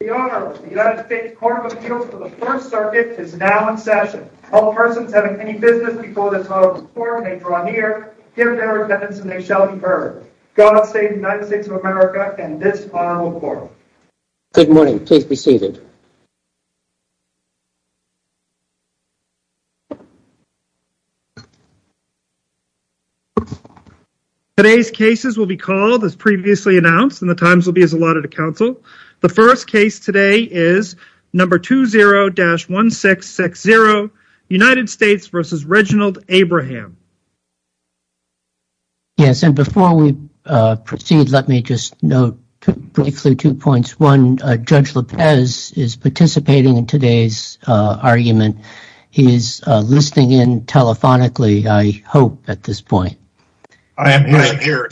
The Honourable United States Court of Appeals for the First Circuit is now in session. All persons having any business before this Honourable Court may draw near, give their attendance and they shall be heard. God save the United States of America and this Honourable Court. Good morning, please be seated. Today's cases will be called, as previously announced, and the times will be as allotted to counsel. The first case today is number 20-1660, United States v. Reginald Abraham. Yes, and before we proceed, let me just note briefly two points. One, Judge Lopez is participating in today's argument. He is listening in telephonically, I hope, at this point. I am here.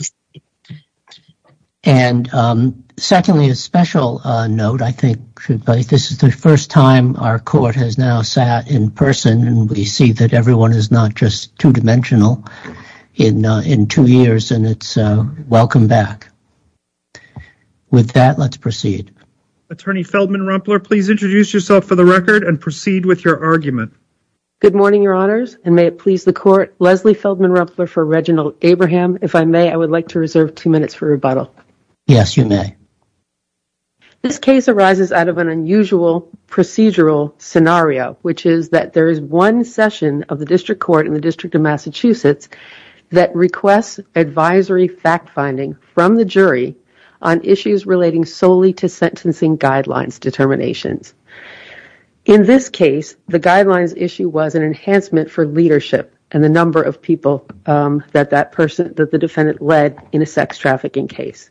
And secondly, a special note, I think this is the first time our court has now sat in person and we see that everyone is not just two-dimensional in two years and it's welcome back. With that, let's proceed. Attorney Feldman Rumpler, please introduce yourself for the record and proceed with your argument. Good morning, Your Honours, and may it please the Court, Leslie Feldman Rumpler for Reginald Abraham. If I may, I would like to reserve two minutes for rebuttal. Yes, you may. This case arises out of an unusual procedural scenario, which is that there is one session of the District Court in the District of Massachusetts that requests advisory fact-finding from the jury on issues relating solely to sentencing guidelines determinations. In this case, the guidelines issue was an enhancement for leadership and the number of people that the defendant led in a sex trafficking case.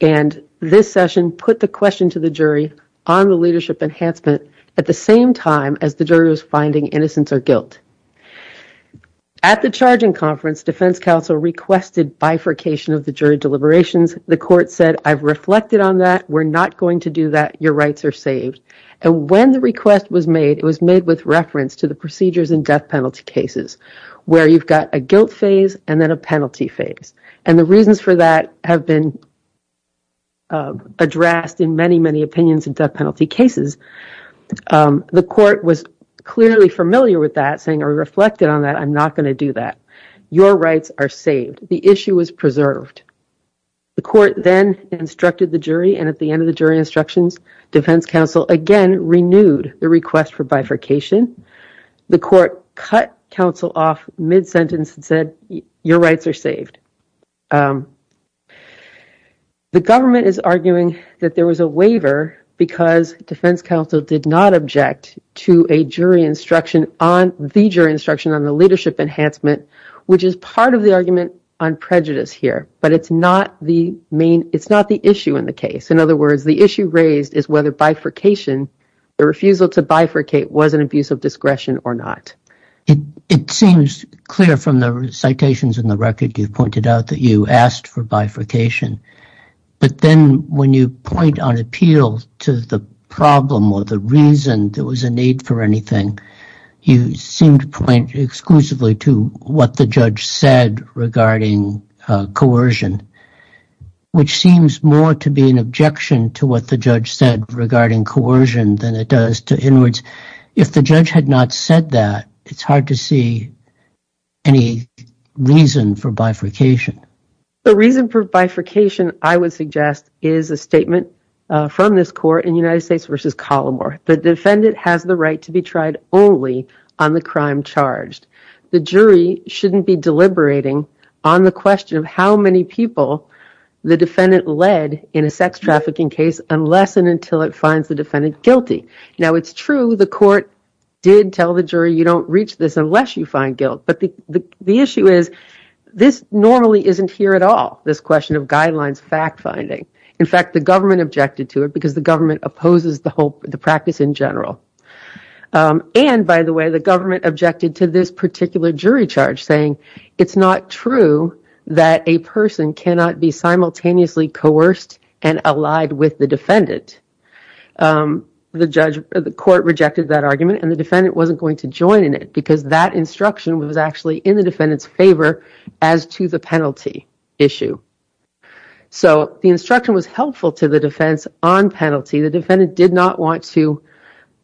And this session put the question to the jury on the leadership enhancement at the same time as the jury was finding innocence or guilt. At the charging conference, defense counsel requested bifurcation of the jury deliberations. The court said, I've reflected on that, we're not going to do that, your rights are saved. And when the request was made, it was made with reference to the procedures in death penalty cases, where you've got a guilt phase and then a penalty phase. And the reasons for that have been addressed in many, many opinions in death penalty cases. The court was clearly familiar with that, saying, I reflected on that, I'm not going to do that. Your rights are saved. The issue was preserved. The court then instructed the jury, and at the end of the jury instructions, defense counsel again renewed the request for bifurcation. The court cut counsel off mid-sentence and said, your rights are saved. The government is arguing that there was a waiver because defense counsel did not object to a jury instruction on the jury instruction on the leadership enhancement, which is part of the argument on prejudice here. But it's not the main, it's not the issue in the case. In other words, the issue raised is whether bifurcation, the refusal to bifurcate was an abuse of discretion or not. It seems clear from the citations in the record, you've pointed out that you asked for bifurcation. But then when you point on appeal to the problem or the reason there was a need for anything, you seem to point exclusively to what the judge said regarding coercion, which seems more to be an objection to what the judge said regarding coercion than it does to inwards. If the judge had not said that, it's hard to see any reason for bifurcation. The reason for bifurcation, I would suggest, is a statement from this court in United States v. Colomore. The defendant has the right to be tried only on the crime charged. The jury shouldn't be deliberating on the question of how many people the defendant led in a sex trafficking case unless and until it finds the defendant guilty. Now, it's true the court did tell the jury you don't reach this unless you find guilt. But the issue is this normally isn't here at all, this question of guidelines fact-finding. In fact, the government objected to it because the government opposes the practice in general. And, by the way, the government objected to this particular jury charge saying it's not true that a person cannot be simultaneously coerced and allied with the defendant. The court rejected that argument and the defendant wasn't going to join in it because that instruction was actually in the defendant's favor as to the penalty issue. So, the instruction was helpful to the defense on penalty. The defendant did not want to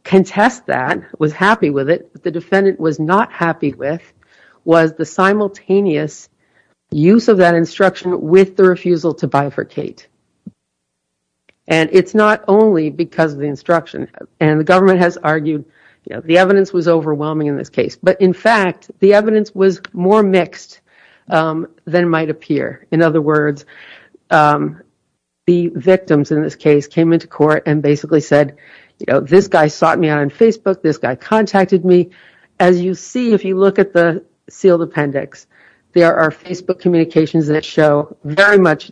contest that, was happy with it. What the defendant was not happy with was the simultaneous use of that instruction with the refusal to bifurcate. And it's not only because of the instruction. And the government has argued the evidence was overwhelming in this case. But, in fact, the evidence was more mixed than might appear. In other words, the victims in this case came into court and basically said, you know, this guy sought me out on Facebook, this guy contacted me. As you see, if you look at the sealed appendix, there are Facebook communications that show very much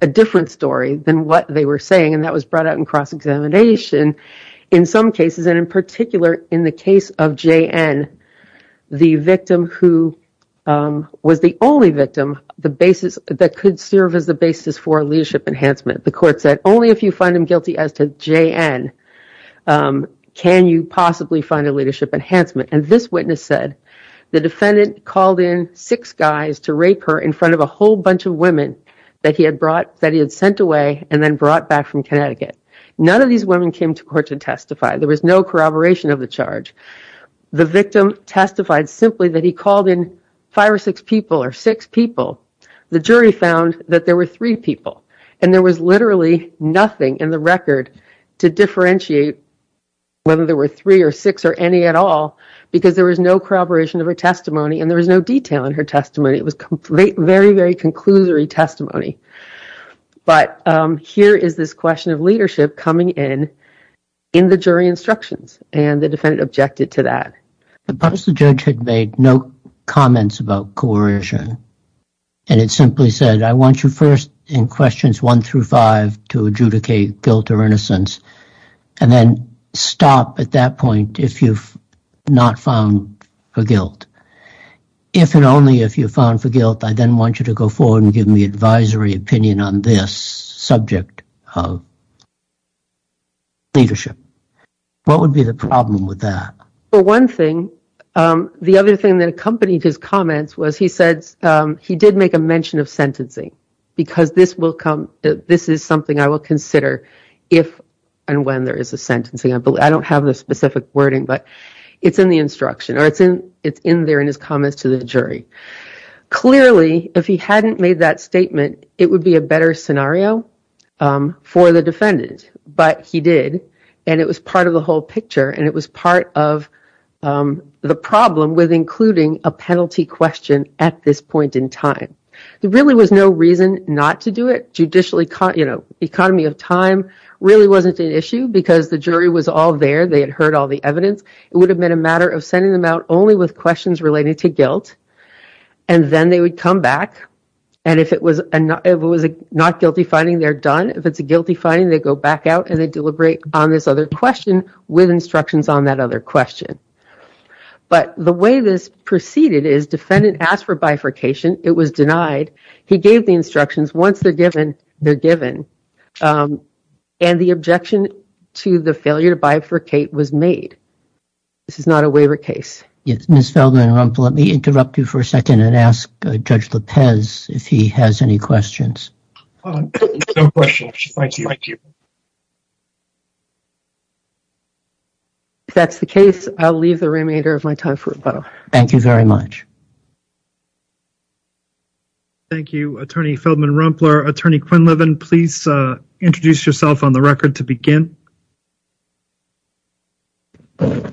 a different story than what they were saying. And that was brought out in cross-examination in some cases. And, in particular, in the case of J.N., the victim who was the only victim that could serve as the basis for a leadership enhancement. The court said, only if you find him guilty as to J.N., can you possibly find a leadership enhancement. And this witness said, the defendant called in six guys to rape her in front of a whole bunch of women that he had sent away and then brought back from Connecticut. None of these women came to court to testify. There was no corroboration of the charge. The victim testified simply that he called in five or six people or six people. The jury found that there were three people. And there was literally nothing in the record to differentiate whether there were three or six or any at all because there was no corroboration of her testimony and there was no detail in her testimony. It was very, very conclusory testimony. But here is this question of leadership coming in in the jury instructions. And the defendant objected to that. Suppose the judge had made no comments about coercion and had simply said, I want you first in questions one through five to adjudicate guilt or innocence and then stop at that point if you've not found her guilt. If and only if you found her guilt, I then want you to go forward and give me advisory opinion on this subject of leadership. What would be the problem with that? For one thing, the other thing that accompanied his comments was he said he did make a mention of sentencing because this is something I will consider if and when there is a sentencing. I don't have the specific wording, but it's in the instruction or it's in there in his comments to the jury. Clearly, if he hadn't made that statement, it would be a better scenario for the defendant. But he did. And it was part of the whole picture. And it was part of the problem with including a penalty question at this point in time. There really was no reason not to do it. Judicially, economy of time really wasn't an issue because the jury was all there. They had heard all the evidence. It would have been a matter of sending them out only with questions relating to guilt. And then they would come back. And if it was a not guilty finding, they're done. If it's a guilty finding, they go back out and they deliberate on this other question with instructions on that other question. But the way this proceeded is defendant asked for bifurcation. It was denied. He gave the instructions. Once they're given, they're given. And the objection to the failure to bifurcate was made. This is not a waiver case. Ms. Feldman-Rumpler, let me interrupt you for a second and ask Judge Lopez if he has any questions. No questions. Thank you. If that's the case, I'll leave the remainder of my time for rebuttal. Thank you very much. Thank you, Attorney Feldman-Rumpler. Attorney Quinlivan, please introduce yourself on the record to begin. Good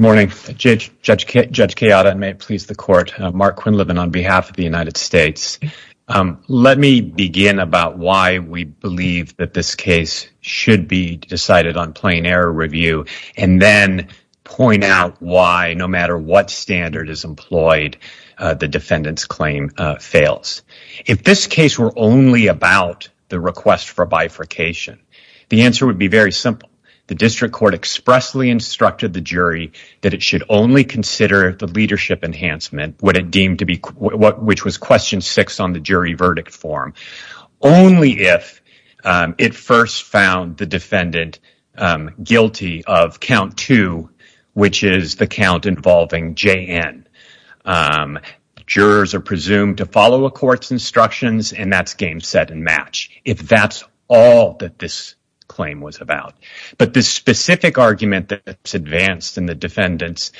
morning. Judge Kayada, and may it please the court. Mark Quinlivan on behalf of the United States. Let me begin about why we believe that this case should be decided on plain error review, and then point out why, no matter what standard is employed, the defendant's claim fails. If this case were only about the request for bifurcation, the answer would be very simple. The district court expressly instructed the jury that it should only consider the leadership enhancement, which was question six on the jury verdict form, only if it first found the defendant guilty of count two, which is the count involving J.N. Jurors are presumed to follow a court's instructions, and that's game, set, and match, if that's all that this claim was about. But the specific argument that's advanced in the defendant's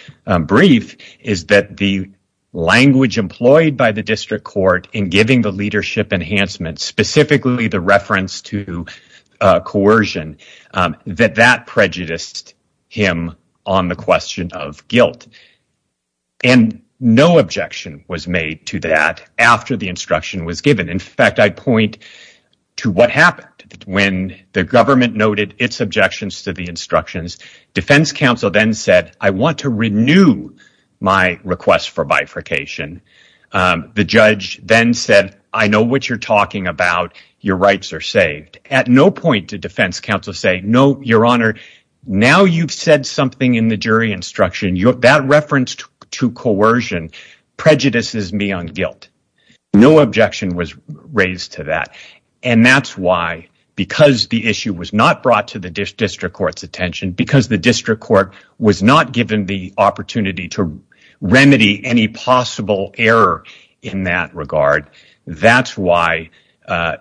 brief is that the language employed by the district court in giving the leadership enhancement, specifically the reference to coercion, that that prejudiced him on the question of guilt. And no objection was made to that after the instruction was given. In fact, I point to what happened when the government noted its objections to the instructions. Defense counsel then said, I want to renew my request for bifurcation. The judge then said, I know what you're talking about. Your rights are saved. At no point did defense counsel say, no, your honor, now you've said something in the jury instruction. That reference to coercion prejudices me on guilt. No objection was raised to that. And that's why, because the issue was not brought to the district court's attention, because the district court was not given the opportunity to remedy any possible error in that regard, that's why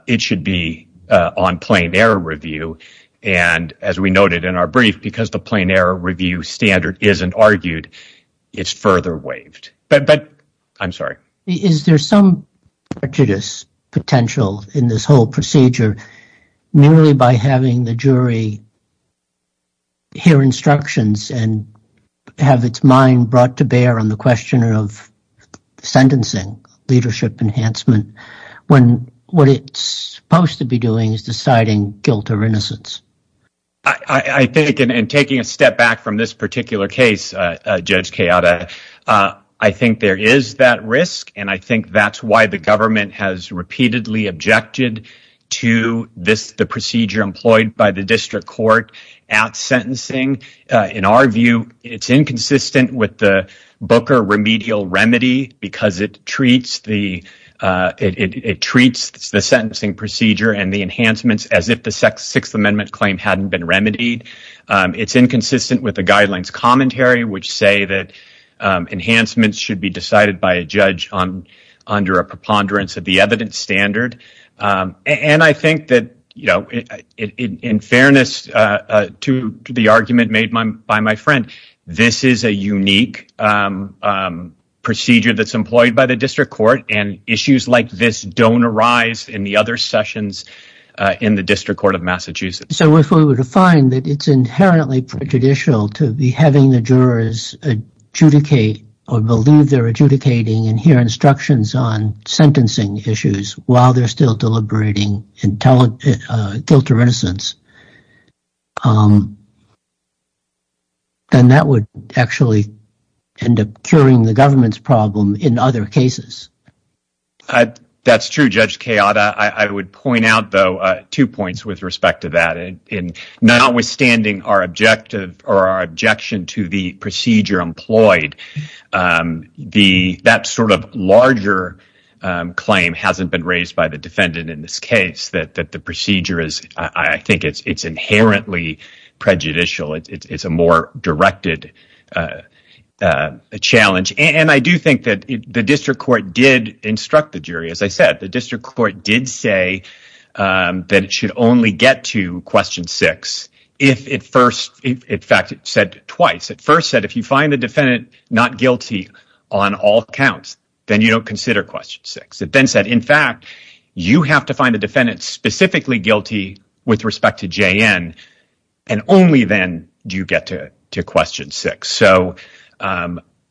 it should be on plain error review. And as we noted in our brief, because the plain error review standard isn't argued, it's further waived. But I'm sorry. Is there some prejudice potential in this whole procedure, merely by having the jury. Hear instructions and have its mind brought to bear on the question of sentencing leadership enhancement, when what it's supposed to be doing is deciding guilt or innocence. I think in taking a step back from this particular case, Judge Kayada, I think there is that risk. And I think that's why the government has repeatedly objected to this, the procedure employed by the district court at sentencing. In our view, it's inconsistent with the Booker remedial remedy because it treats the it treats the sentencing procedure and the enhancements as if the sixth amendment claim hadn't been remedied. It's inconsistent with the guidelines commentary, which say that enhancements should be decided by a judge under a preponderance of the evidence standard. And I think that, you know, in fairness to the argument made by my friend, this is a unique procedure that's employed by the district court. And issues like this don't arise in the other sessions in the district court of Massachusetts. So if we were to find that it's inherently prejudicial to be having the jurors adjudicate or believe they're adjudicating and hear instructions on sentencing issues while they're still deliberating and tell it guilt or innocence. And that would actually end up curing the government's problem in other cases. That's true, Judge Kayada. I would point out, though, two points with respect to that. And notwithstanding our objective or our objection to the procedure employed, the that sort of larger claim hasn't been raised by the defendant in this case, that the procedure is I think it's inherently prejudicial. It's a more directed challenge. And I do think that the district court did instruct the jury. As I said, the district court did say that it should only get to question six if it first, in fact, said twice. It first said, if you find the defendant not guilty on all counts, then you don't consider question six. It then said, in fact, you have to find a defendant specifically guilty with respect to J.N. And only then do you get to question six. So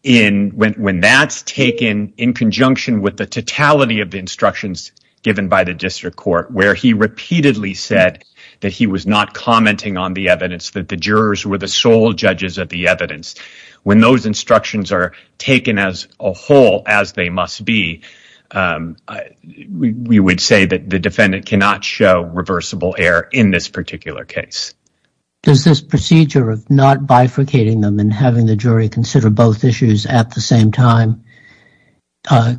in when that's taken in conjunction with the totality of the instructions given by the district court, where he repeatedly said that he was not commenting on the evidence, that the jurors were the sole judges of the evidence. When those instructions are taken as a whole, as they must be, we would say that the defendant cannot show reversible error in this particular case. Does this procedure of not bifurcating them and having the jury consider both issues at the same time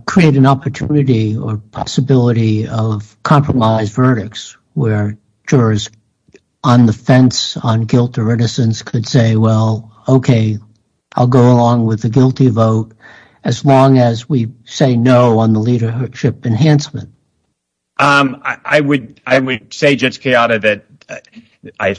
create an opportunity or possibility of compromised verdicts where jurors on the fence on guilt or innocence could say, well, OK, I'll go along with the guilty vote as long as we say no on the leadership enhancement? I would I would say, just chaotic that I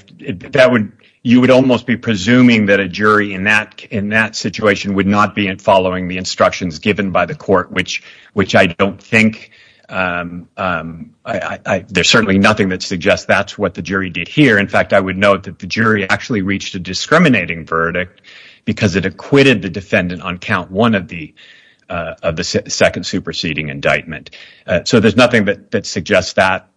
that would you would almost be presuming that a jury in that in that situation would not be in following the instructions given by the court, which which I don't think I there's certainly nothing that suggests that's what the jury did here. In fact, I would note that the jury actually reached a discriminating verdict because it acquitted the defendant on count one of the of the second superseding indictment. So there's nothing that suggests that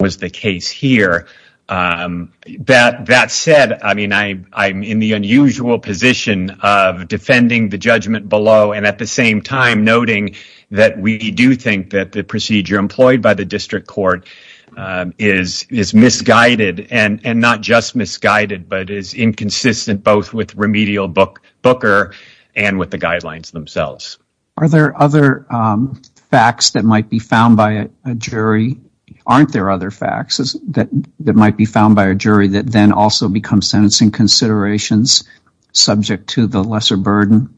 was the case here. That that said, I mean, I I'm in the unusual position of defending the judgment below. And at the same time, noting that we do think that the procedure employed by the district court is is misguided and not just misguided, but is inconsistent both with remedial book booker and with the guidelines themselves. Are there other facts that might be found by a jury? Aren't there other facts that that might be found by a jury that then also become sentencing considerations subject to the lesser burden?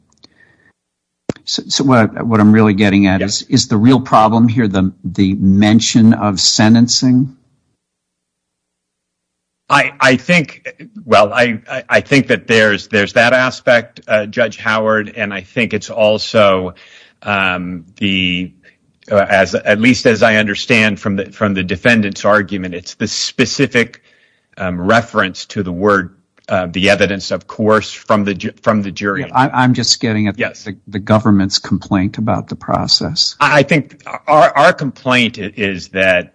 So what I'm really getting at is, is the real problem here the the mention of sentencing? I think. Well, I think that there's there's that aspect, Judge Howard, and I think it's also the as at least as I understand, from the from the defendant's argument, it's the specific reference to the word, the evidence, of course, from the from the jury. I'm just getting at the government's complaint about the process. I think our complaint is that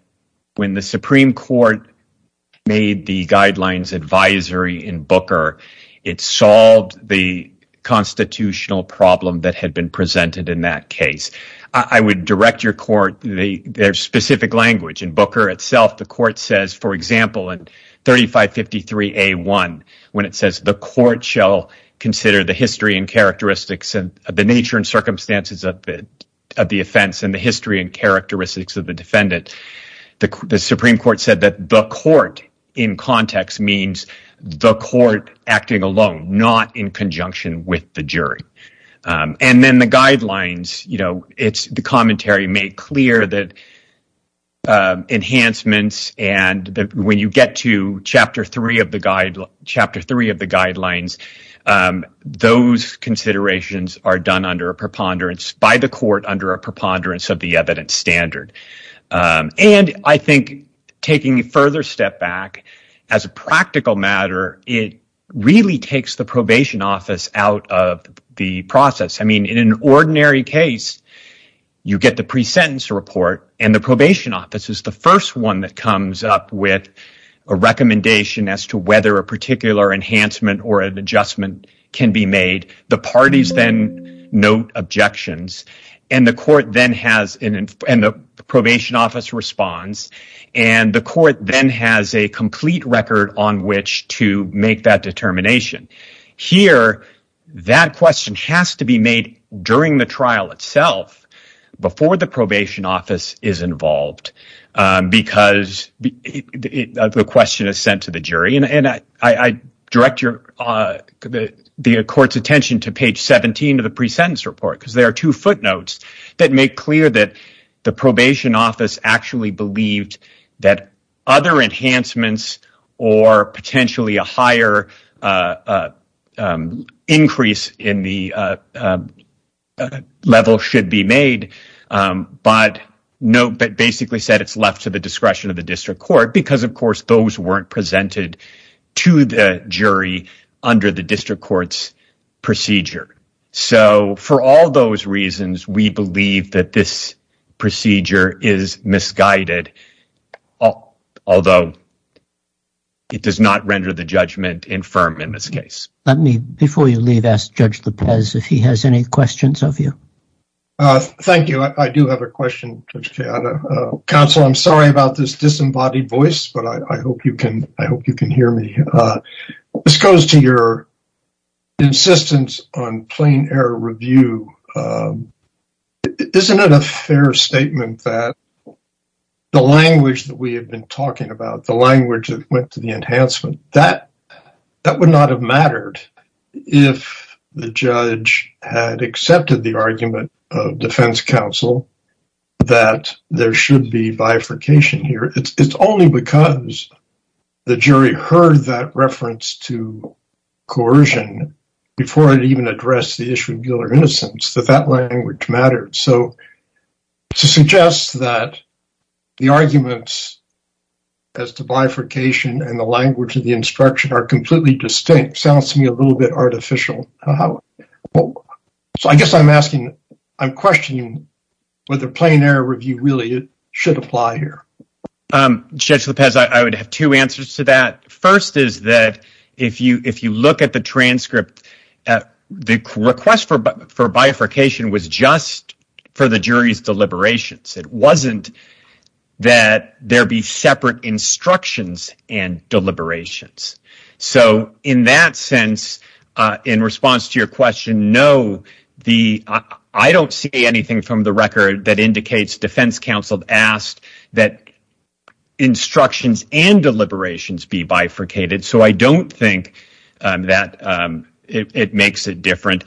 when the Supreme Court made the guidelines advisory in Booker, it solved the constitutional problem that had been presented in that case. I would direct your court the specific language in Booker itself. The court says, for example, and thirty five fifty three a one when it says the court shall consider the history and characteristics and the nature and circumstances of the of the offense and the history and characteristics of the defendant. The Supreme Court said that the court in context means the court acting alone, not in conjunction with the jury. And then the guidelines, you know, it's the commentary made clear that enhancements. And when you get to chapter three of the guide, chapter three of the guidelines, those considerations are done under a preponderance by the court under a preponderance of the evidence standard. And I think taking a further step back as a practical matter, it really takes the probation office out of the process. I mean, in an ordinary case, you get the presentence report and the probation offices. The first one that comes up with a recommendation as to whether a particular enhancement or an adjustment can be made. The parties then note objections and the court then has an probation office response. And the court then has a complete record on which to make that determination here. That question has to be made during the trial itself before the probation office is involved, because the question is sent to the jury. And I direct your the court's attention to page 17 of the presentence report, because there are two footnotes that make clear that the probation office actually believed that other enhancements or potentially a higher increase in the level should be made. But note that basically said it's left to the discretion of the district court because, of course, those weren't presented to the jury under the district court's procedure. So for all those reasons, we believe that this procedure is misguided, although. It does not render the judgment infirm in this case. Let me before you leave, ask Judge Lopez if he has any questions of you. Thank you. I do have a question. Counsel, I'm sorry about this disembodied voice, but I hope you can hear me. This goes to your insistence on plain error review. Isn't it a fair statement that the language that we have been talking about, the language that went to the enhancement, that would not have mattered if the judge had accepted the argument of defense counsel that there should be bifurcation here. It's only because the jury heard that reference to coercion before it even addressed the issue of guilt or innocence that that language mattered. So to suggest that the arguments as to bifurcation and the language of the instruction are completely distinct sounds to me a little bit artificial. So I guess I'm asking I'm questioning whether plain error review really should apply here. Judge Lopez, I would have two answers to that. First is that if you if you look at the transcript, the request for bifurcation was just for the jury's deliberations. It wasn't that there be separate instructions and deliberations. So in that sense, in response to your question, no, I don't see anything from the record that indicates defense counsel asked that instructions and deliberations be bifurcated. So I don't think that it makes it different.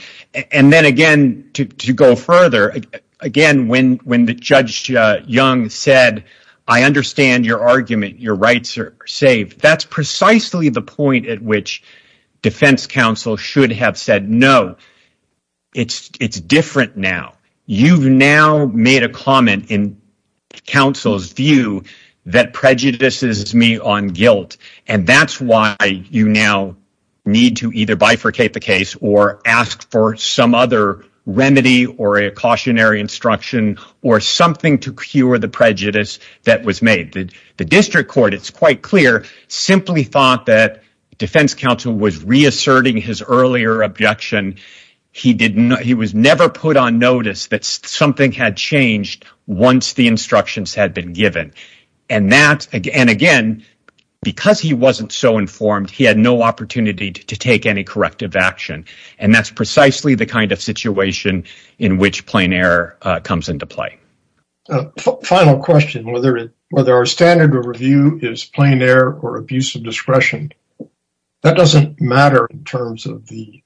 And then again, to go further again, when when the judge Young said, I understand your argument, your rights are saved. That's precisely the point at which defense counsel should have said, no, it's it's different now. You've now made a comment in counsel's view that prejudices me on guilt. And that's why you now need to either bifurcate the case or ask for some other remedy or a cautionary instruction or something to cure the prejudice that was made. The district court, it's quite clear, simply thought that defense counsel was reasserting his earlier objection. He did not. He was never put on notice that something had changed once the instructions had been given. And that and again, because he wasn't so informed, he had no opportunity to take any corrective action. And that's precisely the kind of situation in which plain error comes into play. Final question, whether whether our standard of review is plain error or abuse of discretion. That doesn't matter in terms of the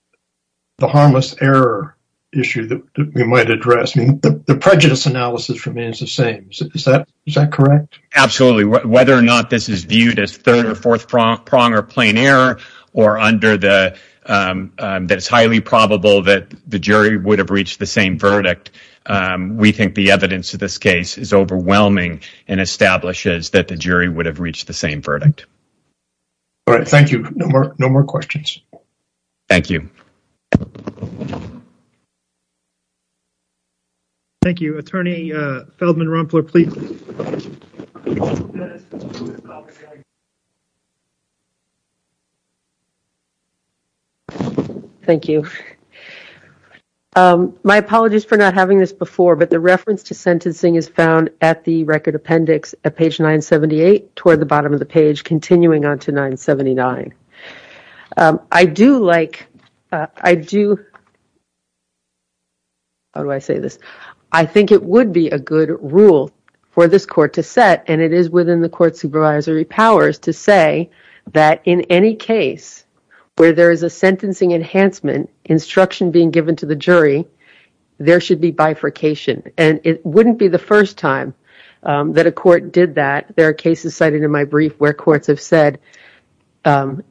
the harmless error issue that we might address. The prejudice analysis remains the same. Is that is that correct? Absolutely. Whether or not this is viewed as third or fourth prong prong or plain error or under the that it's highly probable that the jury would have reached the same verdict. We think the evidence of this case is overwhelming and establishes that the jury would have reached the same verdict. All right. Thank you. No more. No more questions. Thank you. Thank you, Attorney Feldman Rumpler, please. Thank you. My apologies for not having this before, but the reference to sentencing is found at the record appendix at page 978 toward the bottom of the page, continuing on to 979. I do like I do. How do I say this? I think it would be a good rule for this court to set, and it is within the court supervisory powers to say that in any case where there is a sentencing enhancement instruction being given to the jury, there should be bifurcation. And it wouldn't be the first time that a court did that. There are cases cited in my brief where courts have said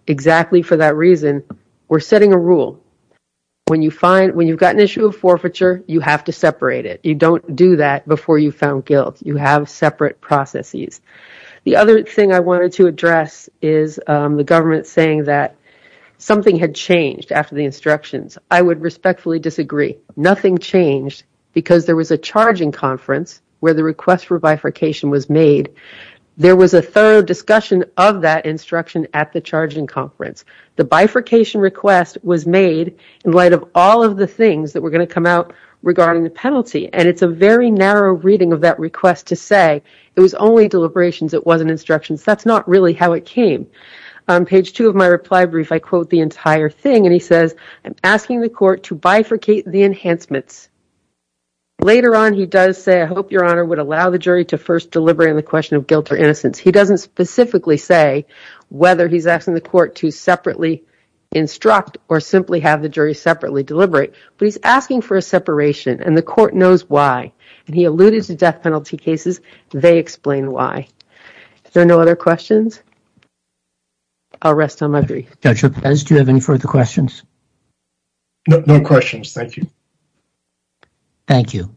exactly for that reason. We're setting a rule when you find when you've got an issue of forfeiture, you have to separate it. You don't do that before you found guilt. You have separate processes. The other thing I wanted to address is the government saying that something had changed after the instructions. I would respectfully disagree. Nothing changed because there was a charging conference where the request for bifurcation was made. There was a thorough discussion of that instruction at the charging conference. The bifurcation request was made in light of all of the things that were going to come out regarding the penalty, and it's a very narrow reading of that request to say it was only deliberations. It wasn't instructions. That's not really how it came. On page two of my reply brief, I quote the entire thing, and he says, I'm asking the court to bifurcate the enhancements. Later on, he does say, I hope your honor would allow the jury to first deliberate on the question of guilt or innocence. He doesn't specifically say whether he's asking the court to separately instruct or simply have the jury separately deliberate. But he's asking for a separation, and the court knows why. And he alluded to death penalty cases. They explain why. There are no other questions. I'll rest on my brief. Judge Ruppes, do you have any further questions? No questions. Thank you. Thank you.